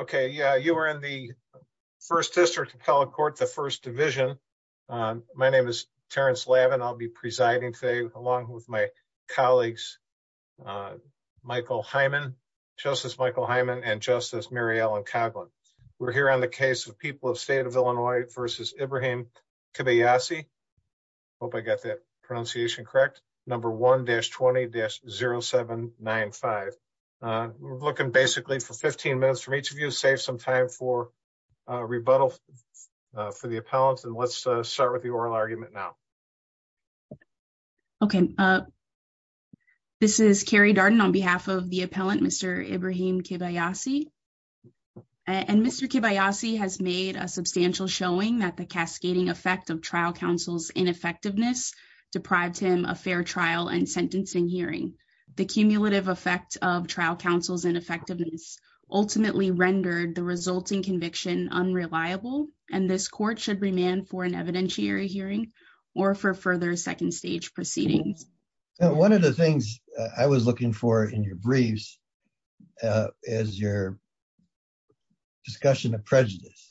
Okay. Yeah. You were in the first district of Collard Court, the first division. My name is Terrence Lavin. I'll be presiding today along with my colleagues, Michael Hyman, Justice Michael Hyman and Justice Mary Ellen Coghlan. We're here on the case of people of state of Illinois versus Ibrahim Kibayasi. Hope I got that pronunciation correct. Number 1-20-0795. We're looking basically for 15 minutes from each of you to save some time for rebuttal for the appellant. And let's start with the oral argument now. Okay. This is Carrie Darden on behalf of the appellant, Mr. Ibrahim Kibayasi. And Mr. Kibayasi has made a substantial showing that the cascading effect of trial counsel's ineffectiveness deprived him a fair trial and sentencing hearing. The cumulative effect of trial counsel's ineffectiveness ultimately rendered the resulting conviction unreliable. And this court should remand for an evidentiary hearing or for further second stage proceedings. One of the things I was looking for in your briefs is your discussion of prejudice.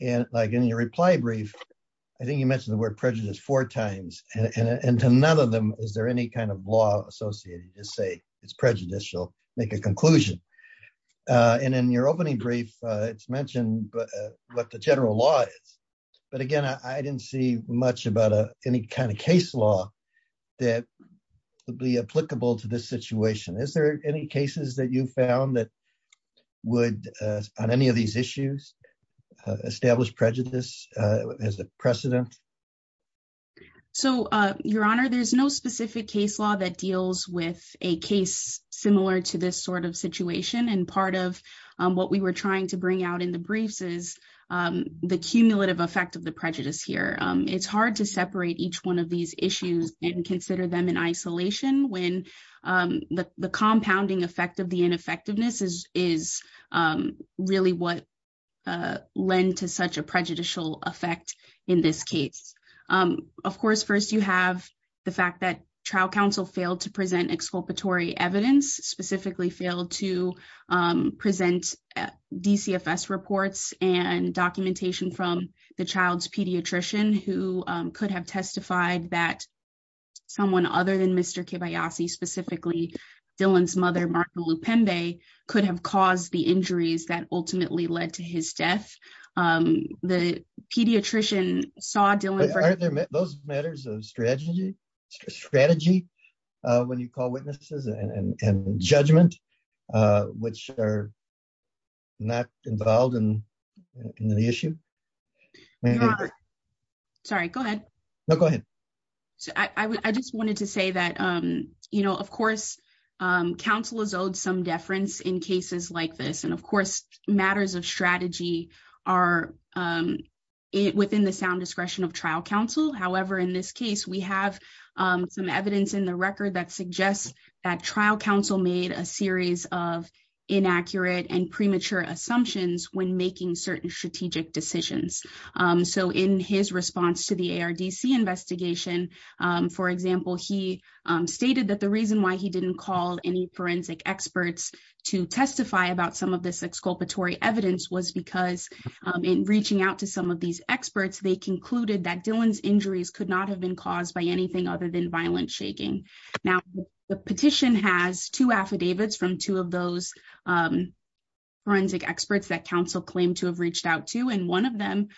And in your reply brief, I think you mentioned the word prejudice four times and to none of them, is there any kind of law associated to say it's prejudicial, make a conclusion. And in your opening brief, it's mentioned what the general law is. But again, I didn't see much about any kind of case law that would be applicable to this situation. Is there any cases that you have in mind that deal with prejudice as a precedent? So, Your Honor, there's no specific case law that deals with a case similar to this sort of situation. And part of what we were trying to bring out in the briefs is the cumulative effect of the prejudice here. It's hard to separate each one of these issues and consider them in isolation when the compounding effect of the ineffectiveness is really what lend to such a prejudicial effect in this case. Of course, first you have the fact that trial counsel failed to present exculpatory evidence, specifically failed to present DCFS reports and documentation from the child's pediatrician who could have testified that someone other than Mr. Kibayasi, specifically Dylan's mother, Martha Lupembe, could have caused the injuries that ultimately led to his death. The pediatrician saw Dylan... Aren't those matters of strategy when you call it? Sorry, go ahead. No, go ahead. I just wanted to say that, you know, of course, counsel is owed some deference in cases like this. And of course, matters of strategy are within the sound discretion of trial counsel. However, in this case, we have some evidence in the record that suggests that trial counsel made a series of inaccurate and premature assumptions when making certain strategic decisions. So, in his response to the ARDC investigation, for example, he stated that the reason why he didn't call any forensic experts to testify about some of this exculpatory evidence was because in reaching out to some of these experts, they concluded that Dylan's injuries could not have been caused by anything other than violent shaking. Now, the petition has two affidavits from two of those forensic experts that counsel claimed to have reached out to, and one of them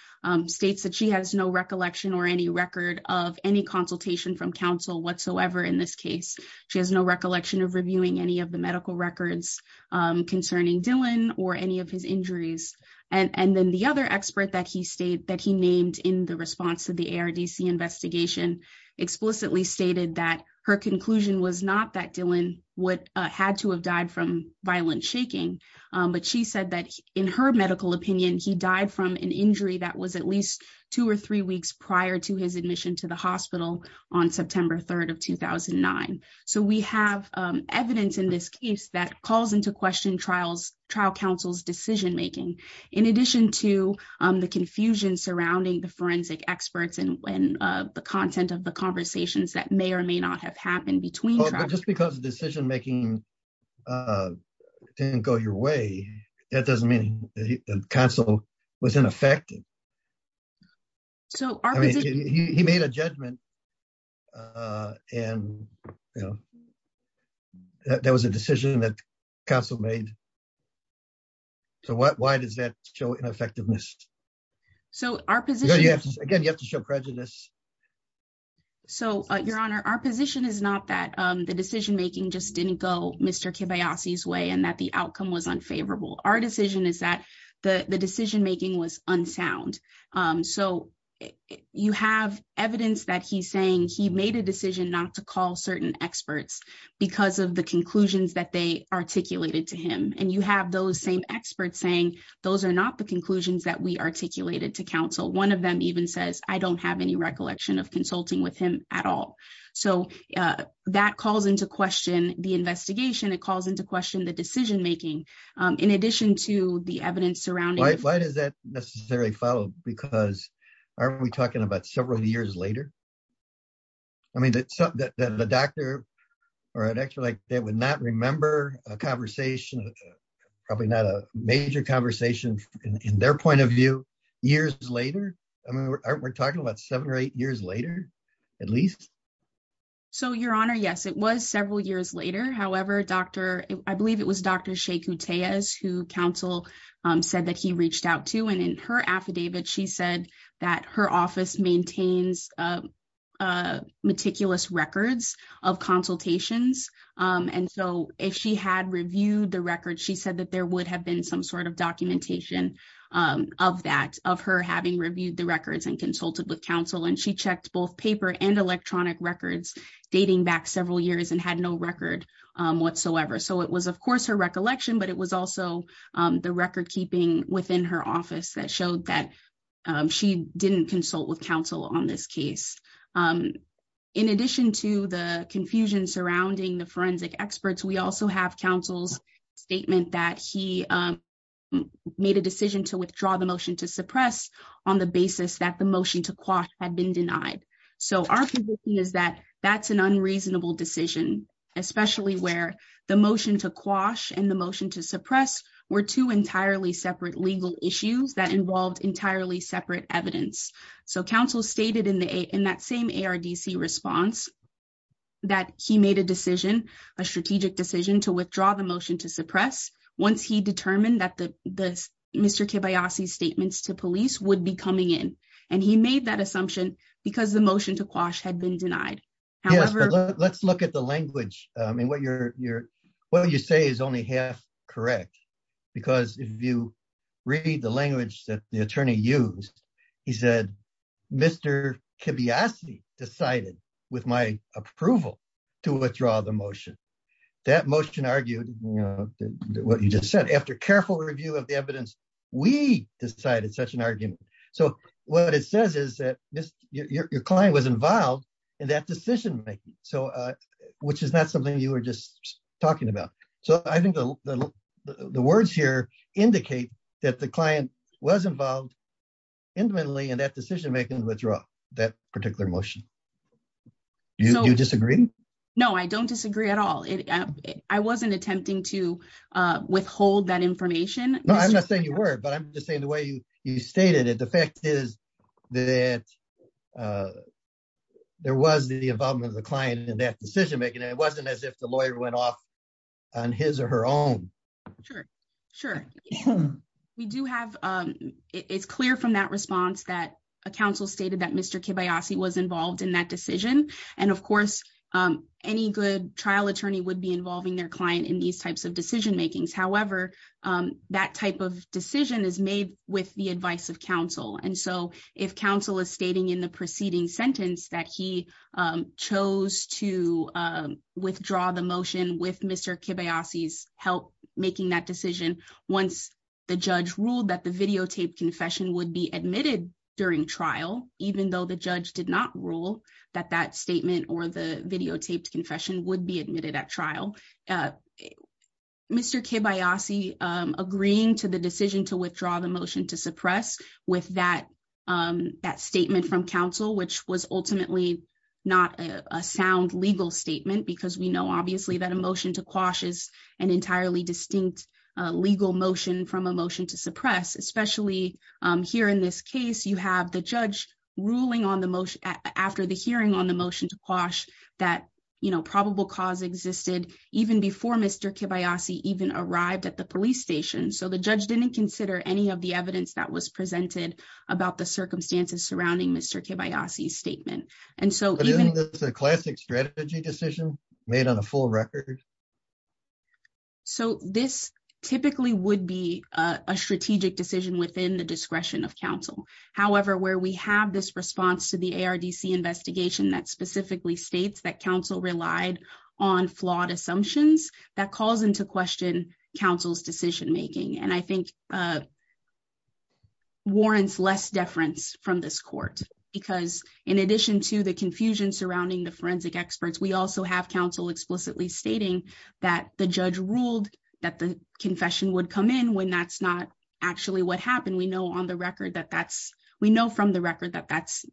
states that she has no recollection or any record of any consultation from counsel whatsoever in this case. She has no recollection of reviewing any of the medical records concerning Dylan or any of his injuries. And then the other expert that he named in the response to the ARDC investigation explicitly stated that her conclusion was not that Dylan had to have violent shaking, but she said that in her medical opinion, he died from an injury that was at least two or three weeks prior to his admission to the hospital on September 3rd of 2009. So, we have evidence in this case that calls into question trial counsel's decision making, in addition to the confusion surrounding the forensic experts and the content of the report. It didn't go your way. That doesn't mean that counsel was ineffective. So, he made a judgment and, you know, that was a decision that counsel made. So, why does that show ineffectiveness? So, our position... Again, you have to show prejudice. So, Your Honor, our position is not that the decision making just didn't go Mr. Kibayasi's way and that the outcome was unfavorable. Our decision is that the decision making was unsound. So, you have evidence that he's saying he made a decision not to call certain experts because of the conclusions that they articulated to him. And you have those same experts saying those are not the conclusions that we articulated to counsel. One of them even says, I don't have any recollection of consulting with him at all. So, that calls into question the investigation. It calls into question the decision making, in addition to the evidence surrounding... Why does that necessarily follow? Because aren't we talking about several years later? I mean, the doctor or an expert like that would not remember a conversation, probably not a major conversation in their point of view years later. We're talking about seven or eight years later, at least. So, Your Honor, yes, it was several years later. However, I believe it was Dr. Shea Kuteyes who counsel said that he reached out to. And in her affidavit, she said that her office maintains meticulous records of consultations. And so, if she had reviewed the record, she said that there would have been some sort of documentation of that, of her having reviewed the records and consulted with counsel. And she checked both paper and electronic records dating back several years and had no record whatsoever. So, it was, of course, her recollection, but it was also the record keeping within her office that showed that she didn't consult with counsel on this case. In addition to the confusion surrounding the forensic experts, we also have counsel's he made a decision to withdraw the motion to suppress on the basis that the motion to quash had been denied. So, our conviction is that that's an unreasonable decision, especially where the motion to quash and the motion to suppress were two entirely separate legal issues that involved entirely separate evidence. So, counsel stated in that same ARDC response that he made a decision, to withdraw the motion to suppress once he determined that the Mr. Kibiasi's statements to police would be coming in. And he made that assumption because the motion to quash had been denied. However, let's look at the language. I mean, what you say is only half correct, because if you read the language that the attorney used, he said, Mr. Kibiasi decided, with my approval, to withdraw the motion. That motion argued what you just said. After careful review of the evidence, we decided such an argument. So, what it says is that your client was involved in that decision making, which is not something you were just talking about. So, I think the words here indicate that the client was involved intimately in that decision making and withdrew that particular motion. Do you disagree? No, I don't disagree at all. I wasn't attempting to withhold that information. No, I'm not saying you were, but I'm just saying the way you stated it, the fact is that there was the involvement of the client in that decision making. It wasn't as if the lawyer went off on his or her own. Sure, sure. We do have, it's clear from that response that a counsel stated that Mr. Kibiasi was involved in that decision. And of course, any good trial attorney would be involving their client in these types of decision makings. However, that type of decision is made with the advice of counsel. And so, if counsel is stating in the preceding sentence that he chose to withdraw the motion with Mr. Kibiasi's help making that decision, once the judge ruled that the videotaped confession would be admitted during trial, even though the judge did not rule that that statement or the videotaped confession would be admitted at trial, Mr. Kibiasi agreeing to the decision to withdraw the motion to suppress with that statement from counsel, which was ultimately not a sound legal statement, because we know obviously that a motion to quash is an entirely distinct legal motion from a motion to suppress, especially here in this case, you have the judge ruling on the motion after the hearing on the motion to quash that, you know, probable cause existed even before Mr. Kibiasi even arrived at the police station. So, the judge didn't consider any of the evidence that was presented about the circumstances surrounding Mr. Kibiasi's statement. And so, isn't this a classic strategy decision made on a full record? So, this typically would be a strategic decision within the discretion of counsel. However, where we have this response to the ARDC investigation that specifically states that counsel relied on flawed assumptions, that calls into question counsel's decision making. And I the confusion surrounding the forensic experts, we also have counsel explicitly stating that the judge ruled that the confession would come in when that's not actually what happened. We know from the record that that's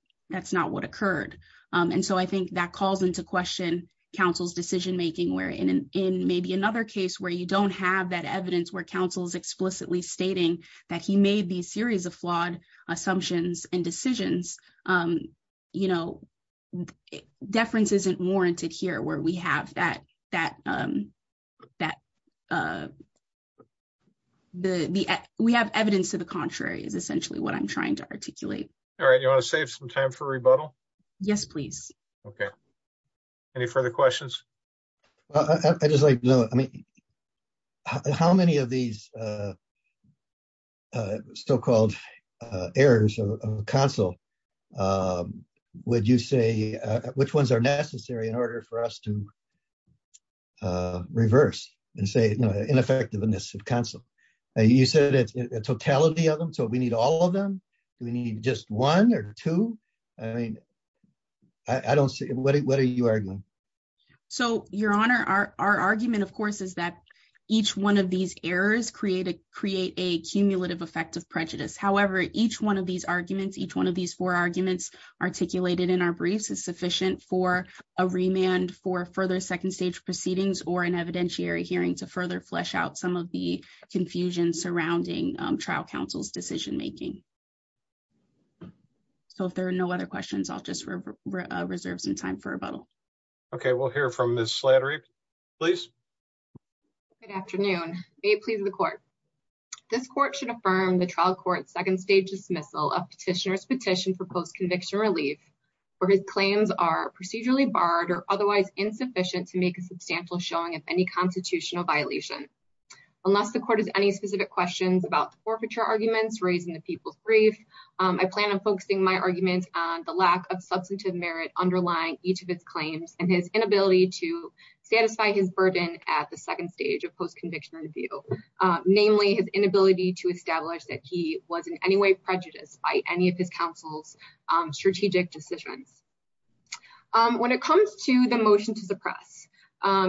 not what occurred. And so, I think that calls into question counsel's decision making where in maybe another case where you don't have that evidence where counsel is explicitly stating that he made these series of flawed assumptions and decisions. You know, deference isn't warranted here where we have that evidence to the contrary is essentially what I'm trying to articulate. All right. You want to save some time for rebuttal? Yes, please. Okay. Any further questions? I just like to know, I mean, how many of these so-called errors of counsel would you say, which ones are necessary in order for us to reverse and say, you know, ineffectiveness of counsel? You said a totality of them, so we need all of them? Do we need just one or two? I mean, I don't see, what are you arguing? So, Your Honor, our argument, of course, is that each one of these errors create a cumulative effect of prejudice. However, each one of these arguments, each one of these four arguments articulated in our briefs is sufficient for a remand for further second stage proceedings or an evidentiary hearing to further flesh out some of the confusion surrounding trial counsel's decision making. So, if there are no other questions, I'll just reserve some time for rebuttal. Okay. We'll hear from Ms. Slattery, please. Good afternoon. May it please the court. This court should affirm the trial court's second stage dismissal of petitioner's petition for post-conviction relief, where his claims are procedurally barred or otherwise insufficient to make a substantial showing of any constitutional violation. Unless the court has any specific questions about the forfeiture arguments raised in the people's brief, I plan on focusing my argument on the lack of substantive merit underlying each of its claims and his inability to satisfy his burden at the second stage of post-conviction review, namely his inability to establish that he was in any way prejudiced by any of his counsel's strategic decisions. When it comes to the motion to suppress,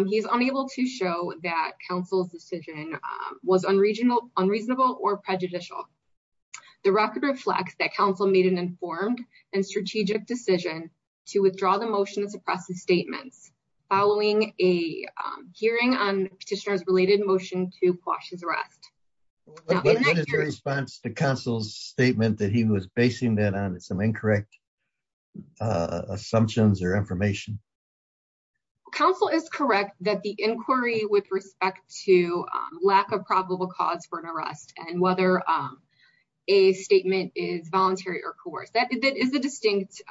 he's unable to show that counsel's decision was unreasonable or prejudicial. The record reflects that counsel made an informed and strategic decision to withdraw the motion to suppress his statements following a hearing on petitioner's related motion to quash his arrest. What is your response to counsel's statement that he was basing that on some incorrect assumptions or information? Counsel is correct that the inquiry with respect to lack of probable cause for an arrest and whether a statement is voluntary or coerced, that is a distinct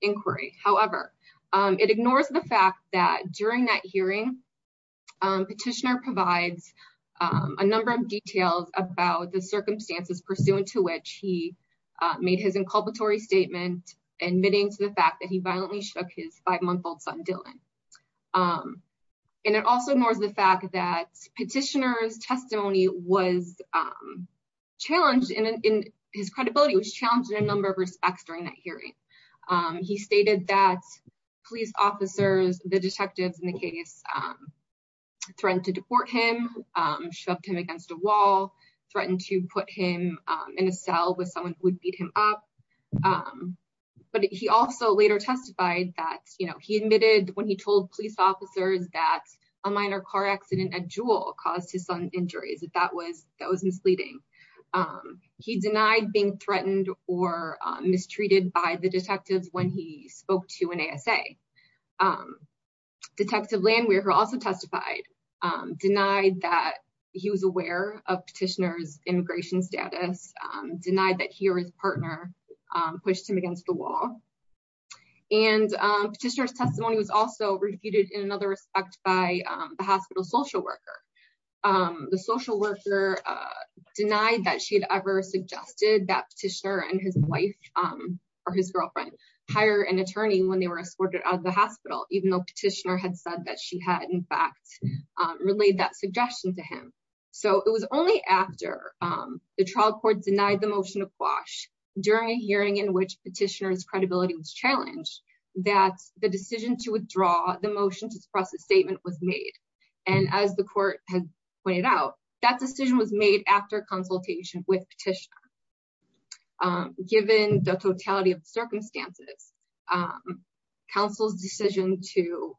inquiry. However, it ignores the fact that during that hearing, petitioner provides a number of details about the circumstances pursuant to which he made his inculpatory statement admitting to the fact that he violently shook his five-month-old son Dylan. And it also ignores the fact that petitioner's testimony was challenged and his credibility was challenged in a number of respects during that hearing. He stated that police officers, the detectives in the case threatened to deport him, shoved him against a wall, threatened to put him in a cell with someone who would beat him up. Um, but he also later testified that, you know, he admitted when he told police officers that a minor car accident at Jewel caused his son injuries, that that was, that was misleading. Um, he denied being threatened or mistreated by the detectives when he spoke to an ASA. Um, Detective Landwehr, who also testified, um, denied that he was aware of petitioner's partner, um, pushed him against the wall. And, um, petitioner's testimony was also refuted in another respect by, um, the hospital social worker. Um, the social worker, uh, denied that she'd ever suggested that petitioner and his wife, um, or his girlfriend hire an attorney when they were escorted out of the hospital, even though petitioner had said that she had in fact, um, relayed that suggestion to him. So it was only after, um, the trial court denied the motion of during a hearing in which petitioner's credibility was challenged that the decision to withdraw the motion to suppress the statement was made. And as the court had pointed out, that decision was made after consultation with petitioner. Um, given the totality of the circumstances, um, counsel's decision to,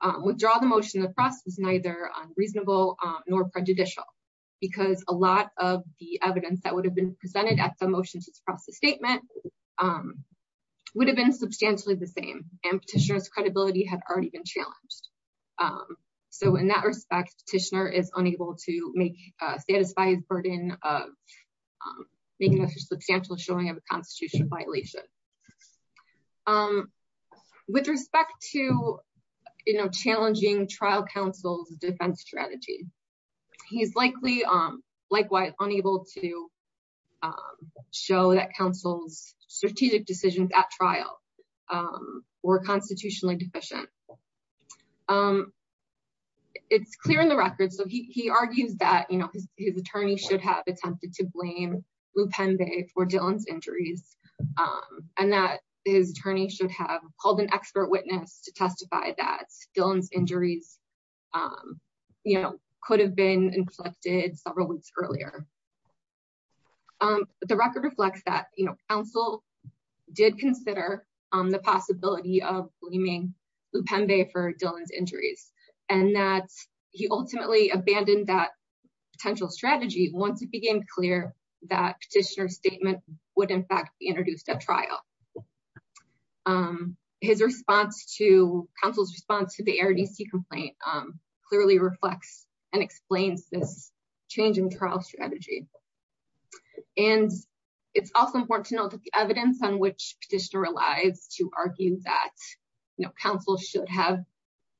um, withdraw the motion of the press was neither unreasonable, um, nor prejudicial because a lot of the evidence that motion to suppress the statement, um, would have been substantially the same and petitioner's credibility had already been challenged. Um, so in that respect, petitioner is unable to make, uh, satisfy his burden of, um, making a substantial showing of a constitutional violation. Um, with respect to, you know, challenging trial counsel's defense strategy, he's likely, um, unable to, um, show that counsel's strategic decisions at trial, um, were constitutionally deficient. Um, it's clear in the records. So he, he argues that, you know, his, his attorney should have attempted to blame Lou Penby for Dylan's injuries. Um, and that his attorney should have called an expert witness to testify that Dylan's injuries, um, you know, could have inflected several weeks earlier. Um, the record reflects that, you know, counsel did consider, um, the possibility of blaming Lou Penby for Dylan's injuries and that he ultimately abandoned that potential strategy once it became clear that petitioner's statement would in fact be introduced at trial. Um, his response to counsel's response to the ARDC complaint, um, clearly reflects and explains this change in trial strategy. And it's also important to note that the evidence on which petitioner relies to argue that, you know, counsel should have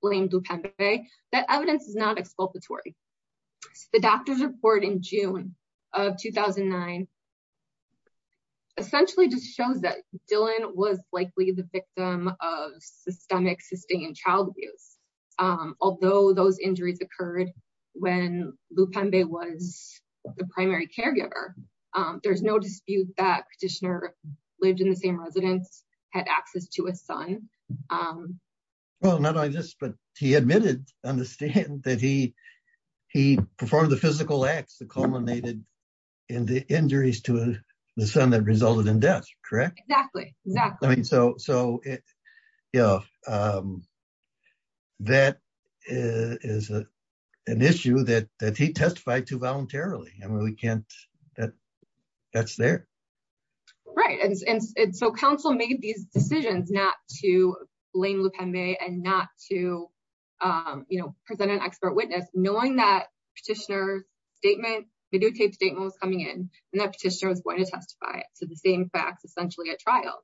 blamed Lou Penby, that evidence is not exculpatory. The doctor's report in June of 2009 essentially just shows that Dylan was likely the victim of systemic sustained child abuse. Um, although those injuries occurred when Lou Penby was the primary caregiver, um, there's no dispute that petitioner lived in the same residence, had access to a son. Um. Well, not only this, but he admitted on the stand that he, he performed the physical acts that culminated in the injuries to the son that resulted in death, correct? Exactly. Exactly. I mean, so, so yeah, um, that is an issue that, that he testified to voluntarily. I mean, we can't, that, that's there. Right. And so counsel made these decisions not to blame Lou Penby and not to, um, you know, present an expert witness knowing that petitioner's statement, videotaped statement was coming in and that petitioner was going to testify to the same facts, essentially at trial.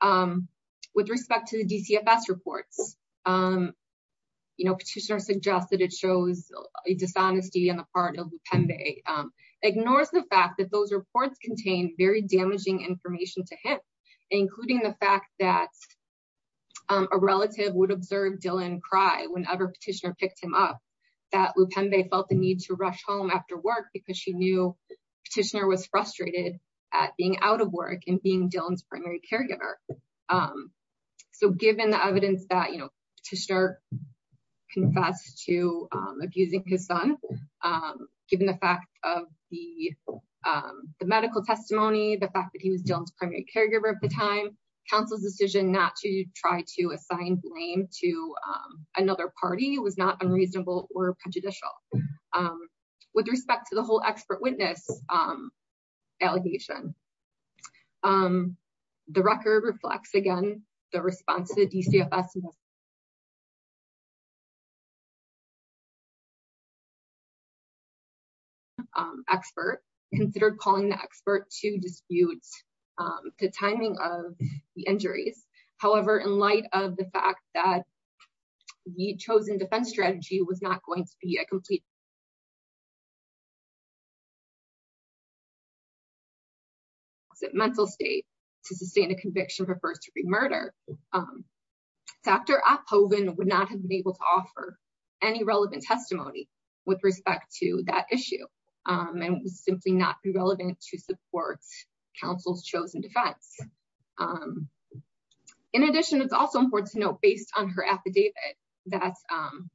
Um, with respect to the DCFS reports, um, you know, petitioner suggested it shows a dishonesty on the part of Lou Penby, um, ignores the fact that those reports contain very damaging information to him, including the fact that, um, a relative would observe Dylan cry whenever petitioner picked him up, that Lou Penby felt the need to rush home after work because she knew petitioner was frustrated at being out of work and being Dylan's primary caregiver. Um, so given the evidence that, you know, to start confess to, um, abusing his son, um, given the fact of the, um, the medical testimony, the fact that he was Dylan's primary caregiver at the time, counsel's decision not to try to assign blame to, um, another party was not unreasonable or prejudicial. Um, with respect to the whole expert witness, um, allegation, um, the record reflects again, the response to the DCFS expert considered calling the expert to dispute, um, the timing of the injuries. However, in light of the fact that the chosen defense strategy was not going to be a complete mental state to sustain a conviction for first degree murder, um, Dr. Opphoven would not have been able to offer any relevant testimony with respect to that issue. Um, and it was simply not relevant to support counsel's chosen defense. Um, in addition, it's also important to note, based on her affidavit, that, um,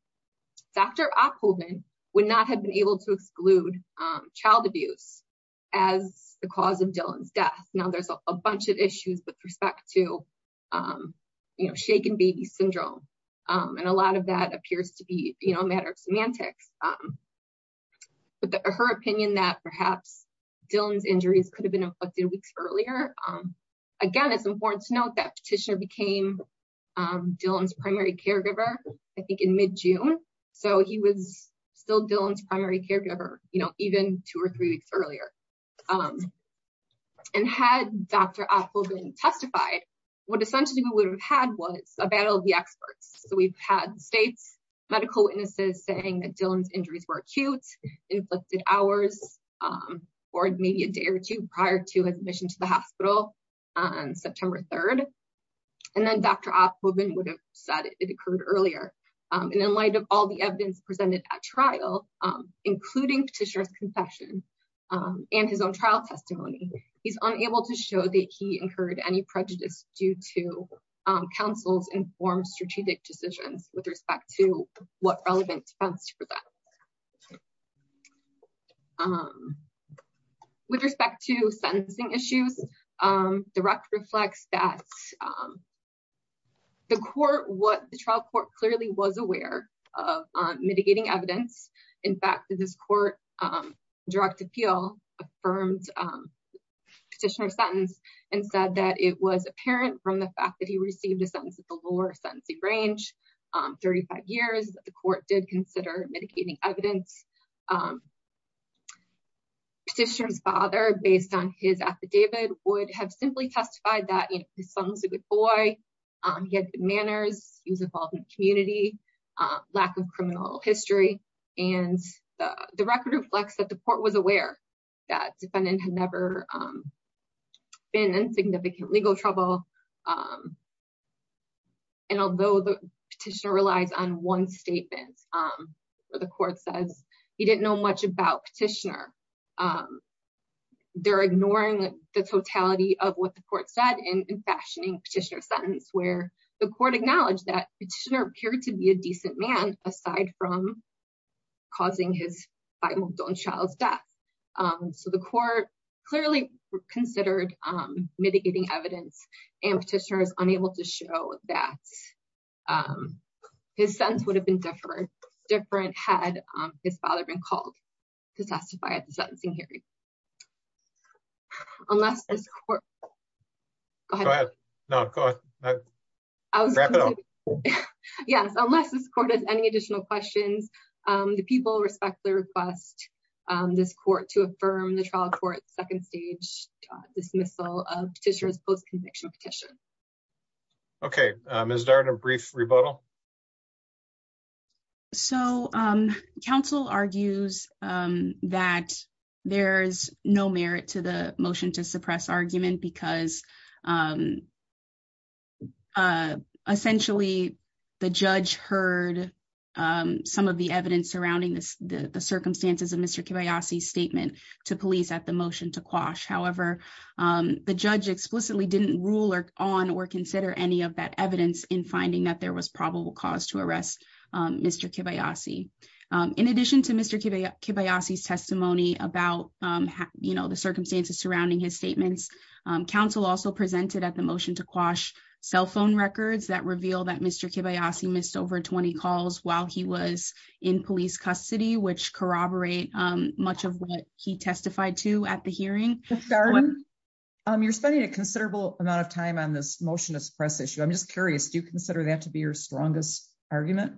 Dr. Opphoven would not have been able to exclude, um, child abuse as the cause of Dylan's death. Now there's a bunch of issues with respect to, um, you know, shaken baby syndrome. Um, and a lot of that appears to be, you know, a matter of semantics, um, but her opinion that perhaps Dylan's injuries could have been inflicted weeks earlier. Um, it's important to note that petitioner became, um, Dylan's primary caregiver, I think in mid-June. So he was still Dylan's primary caregiver, you know, even two or three weeks earlier. Um, and had Dr. Opphoven testified, what essentially we would have had was a battle of the experts. So we've had states, medical witnesses saying that Dylan's injuries were acute, inflicted hours, um, or maybe a day or two prior to his admission to the hospital on September 3rd. And then Dr. Opphoven would have said it occurred earlier. Um, and in light of all the evidence presented at trial, um, including petitioner's confession, um, and his own trial testimony, he's unable to show that he incurred any prejudice due to, um, counsel's informed decisions with respect to what relevant defense for that. Um, with respect to sentencing issues, um, direct reflects that, um, the court, what the trial court clearly was aware of, um, mitigating evidence. In fact, this court, um, direct appeal affirmed, um, petitioner's sentence and said that it was apparent from the fact that he received a sentence at the lower sentencing range, um, 35 years that the court did consider mitigating evidence, um, petitioner's father based on his affidavit would have simply testified that his son was a good boy. Um, he had good manners. He was involved in the community, uh, lack of criminal history. And the record reflects that the court was aware that defendant had never, um, been in significant legal trouble. Um, and although the petitioner relies on one statement, um, where the court says he didn't know much about petitioner, um, they're ignoring the totality of what the court said in fashioning petitioner's sentence, where the court acknowledged that petitioner appeared to be a decent man, aside from causing his five month old child's death. Um, so the court clearly considered, um, mitigating evidence and petitioners unable to show that, um, his sentence would have been different, different had, um, his father been called to testify at the sentencing hearing. Unless this court, go ahead. No, go ahead. Yes. Unless this court has any additional questions, um, the people respectfully request, um, this court to affirm the trial court second stage dismissal of petitioner's post conviction petition. Okay. Um, is there a brief rebuttal? So, um, counsel argues, um, that there's no merit to the motion to suppress argument because, um, uh, essentially the judge heard, um, some of the evidence surrounding this, the, the circumstances of Mr. Kibayashi statement to police at the motion to quash. However, um, the judge explicitly didn't rule or on or consider any of that evidence in finding that there was probable cause to arrest, um, Mr. Kibayashi. Um, in addition to Mr. Kibayashi testimony about, um, you know, the circumstances surrounding his statements, um, council also presented at the motion to quash cell phone records that reveal that Mr. Kibayashi missed over 20 calls while he was in police custody, which corroborate, um, much of what he testified to at the hearing. You're spending a considerable amount of time on this motion to suppress issue. I'm just curious, do you consider that to be your strongest argument?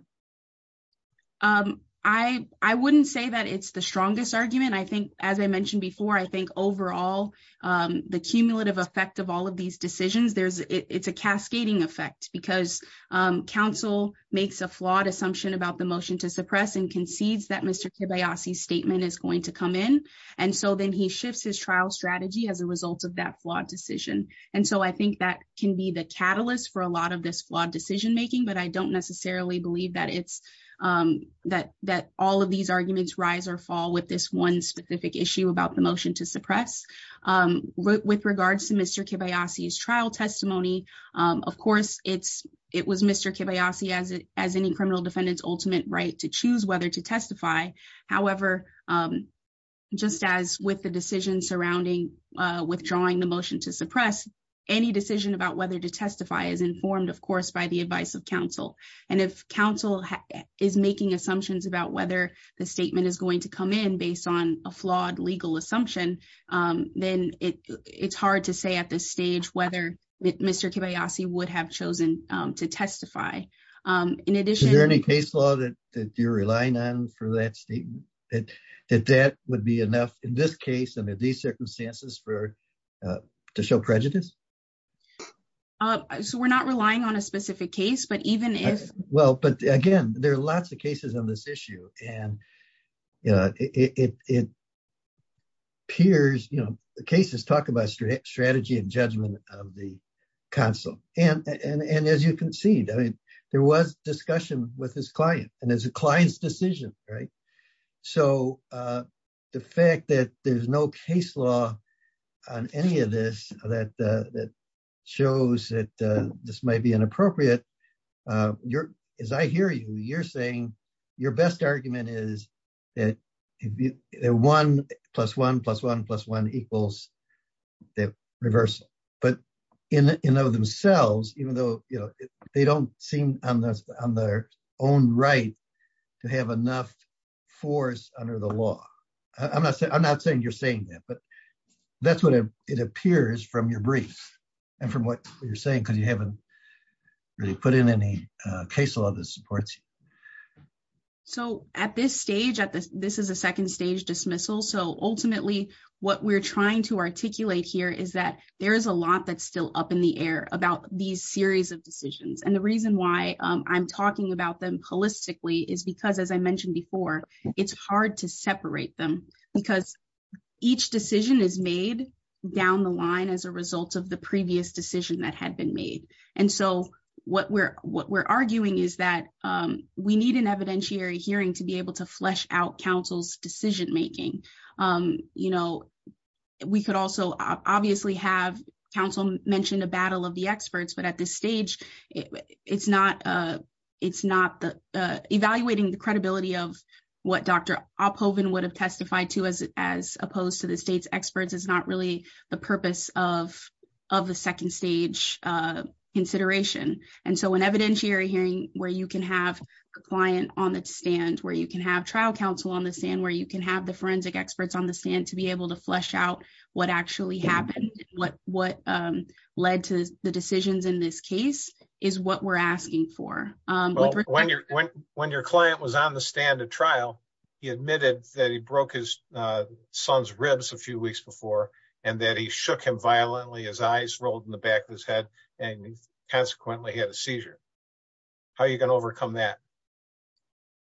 Um, I, I wouldn't say that it's the strongest argument. I think, as I mentioned before, I think overall, um, the cumulative effect of all of these decisions, there's, it's a cascading effect because, um, council makes a flawed assumption about the motion to suppress and concedes that Mr. Kibayashi statement is going to come in. And so then he shifts his trial strategy as a result of that flawed decision. And so I think that can be the catalyst for a lot of this flawed decision-making, but I don't necessarily believe that it's, um, that, that all of these arguments rise or fall with this one specific issue about the motion to suppress, um, with regards to Mr. Kibayashi's trial testimony. Um, of course it's, it was Mr. Kibayashi as it, as any criminal defendant's ultimate right to choose whether to testify. However, um, just as with the decision surrounding, uh, withdrawing the motion to suppress, any decision about whether to testify is informed, of course, by the advice of council. And if council is making assumptions about whether the statement is going to come in based on a flawed legal assumption, um, then it, it's hard to say at this stage, whether Mr. Kibayashi would have chosen, um, to testify. Um, in addition... Is there any case law that you're relying on for that that, that that would be enough in this case, under these circumstances for, uh, to show prejudice? Uh, so we're not relying on a specific case, but even if... Well, but again, there are lots of cases on this issue and, uh, it, it, it appears, you know, the cases talk about strategy and judgment of the council. And, and, and as you concede, I mean, there was discussion with his client and it's a client's decision, right? So, uh, the fact that there's no case law on any of this that, uh, that shows that, uh, this might be inappropriate, uh, you're, as I hear you, you're saying your best argument is that if you, that one plus one plus one plus one equals the reversal. But in, in and of themselves, even though, you know, they don't seem on the, on their own right to have enough force under the law. I'm not saying, I'm not saying you're saying that, but that's what it appears from your brief and from what you're saying, because you haven't really put in any, uh, case law that supports you. So at this stage, at this, this is a second stage dismissal. So ultimately what we're trying to articulate here is that there is a lot that's still up in the air about these series of decisions. And the reason why I'm talking about them holistically is because as I mentioned before, it's hard to separate them because each decision is made down the line as a result of the previous decision that had been made. And so what we're, what we're arguing is that, um, we need an evidentiary hearing to be able to flesh out counsel's decision-making. Um, you know, we could also obviously have counsel mentioned a battle of the experts, but at this stage, it's not, uh, it's not the, uh, evaluating the credibility of what Dr. Oppoven would have testified to as, as opposed to the state's experts is not really the purpose of, of the second stage, uh, consideration. And so an evidentiary hearing where you can have a client on the stand, where you can have trial counsel on the stand, where you can have the forensic experts on the stand to be able to flesh out what actually happened, what, what, um, led to the decisions in this case is what we're asking for. Um, when your, when, when your client was on the stand at trial, he admitted that he broke his, uh, son's ribs a few weeks before, and that he shook him violently, his eyes rolled in the back of his head and consequently he had a seizure. How are you going to overcome that?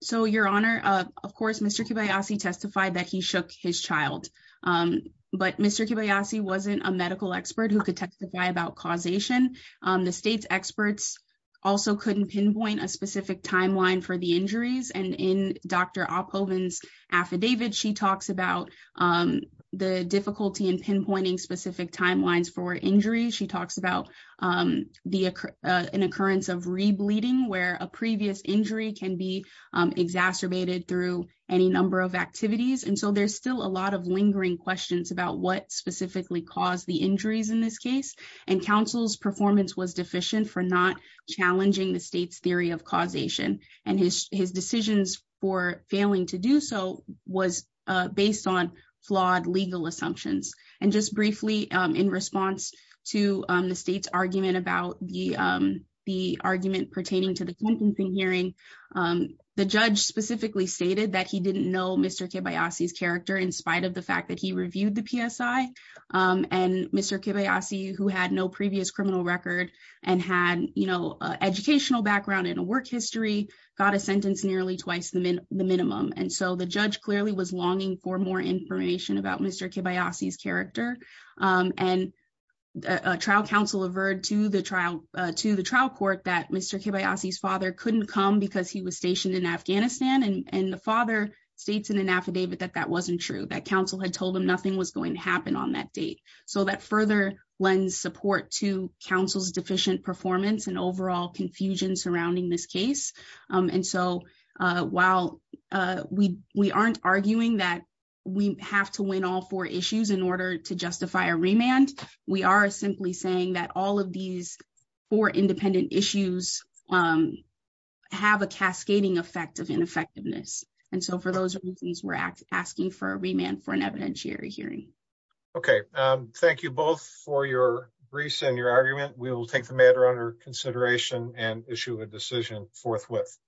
So your honor, uh, of course, Mr. Kibayasi testified that he shook his child. Um, but Mr. Kibayasi wasn't a medical expert who could testify about causation. Um, the state's experts also couldn't pinpoint a specific timeline for the injuries. And in Dr. Oppoven's affidavit, she talks about, um, the difficulty in pinpointing specific timelines for injuries. She talks about, um, the, uh, an occurrence of re-bleeding where a previous injury can be, um, exacerbated through any number of activities. And so there's still a lot of lingering questions about what specifically caused the injuries in this case. And counsel's performance was deficient for not challenging the state's theory of causation and his, his decisions for failing to do so was, uh, based on flawed legal assumptions. And just briefly, um, to, um, the state's argument about the, um, the argument pertaining to the content in hearing, um, the judge specifically stated that he didn't know Mr. Kibayasi's character in spite of the fact that he reviewed the PSI. Um, and Mr. Kibayasi who had no previous criminal record and had, you know, uh, educational background and a work history got a sentence nearly twice the min- the minimum. And so the judge clearly was longing for more information about Mr. Kibayasi's character. Um, and a trial counsel averred to the trial, uh, to the trial court that Mr. Kibayasi's father couldn't come because he was stationed in Afghanistan. And the father states in an affidavit that that wasn't true, that counsel had told him nothing was going to happen on that date. So that further lends support to counsel's deficient performance and overall confusion surrounding this case. Um, and so, uh, while, uh, we, we aren't arguing that we have to win all four remands, we are simply saying that all of these four independent issues, um, have a cascading effect of ineffectiveness. And so for those reasons, we're asking for a remand for an evidentiary hearing. Okay. Um, thank you both for your briefs and your argument. We will take the matter under consideration and issue a decision forthwith.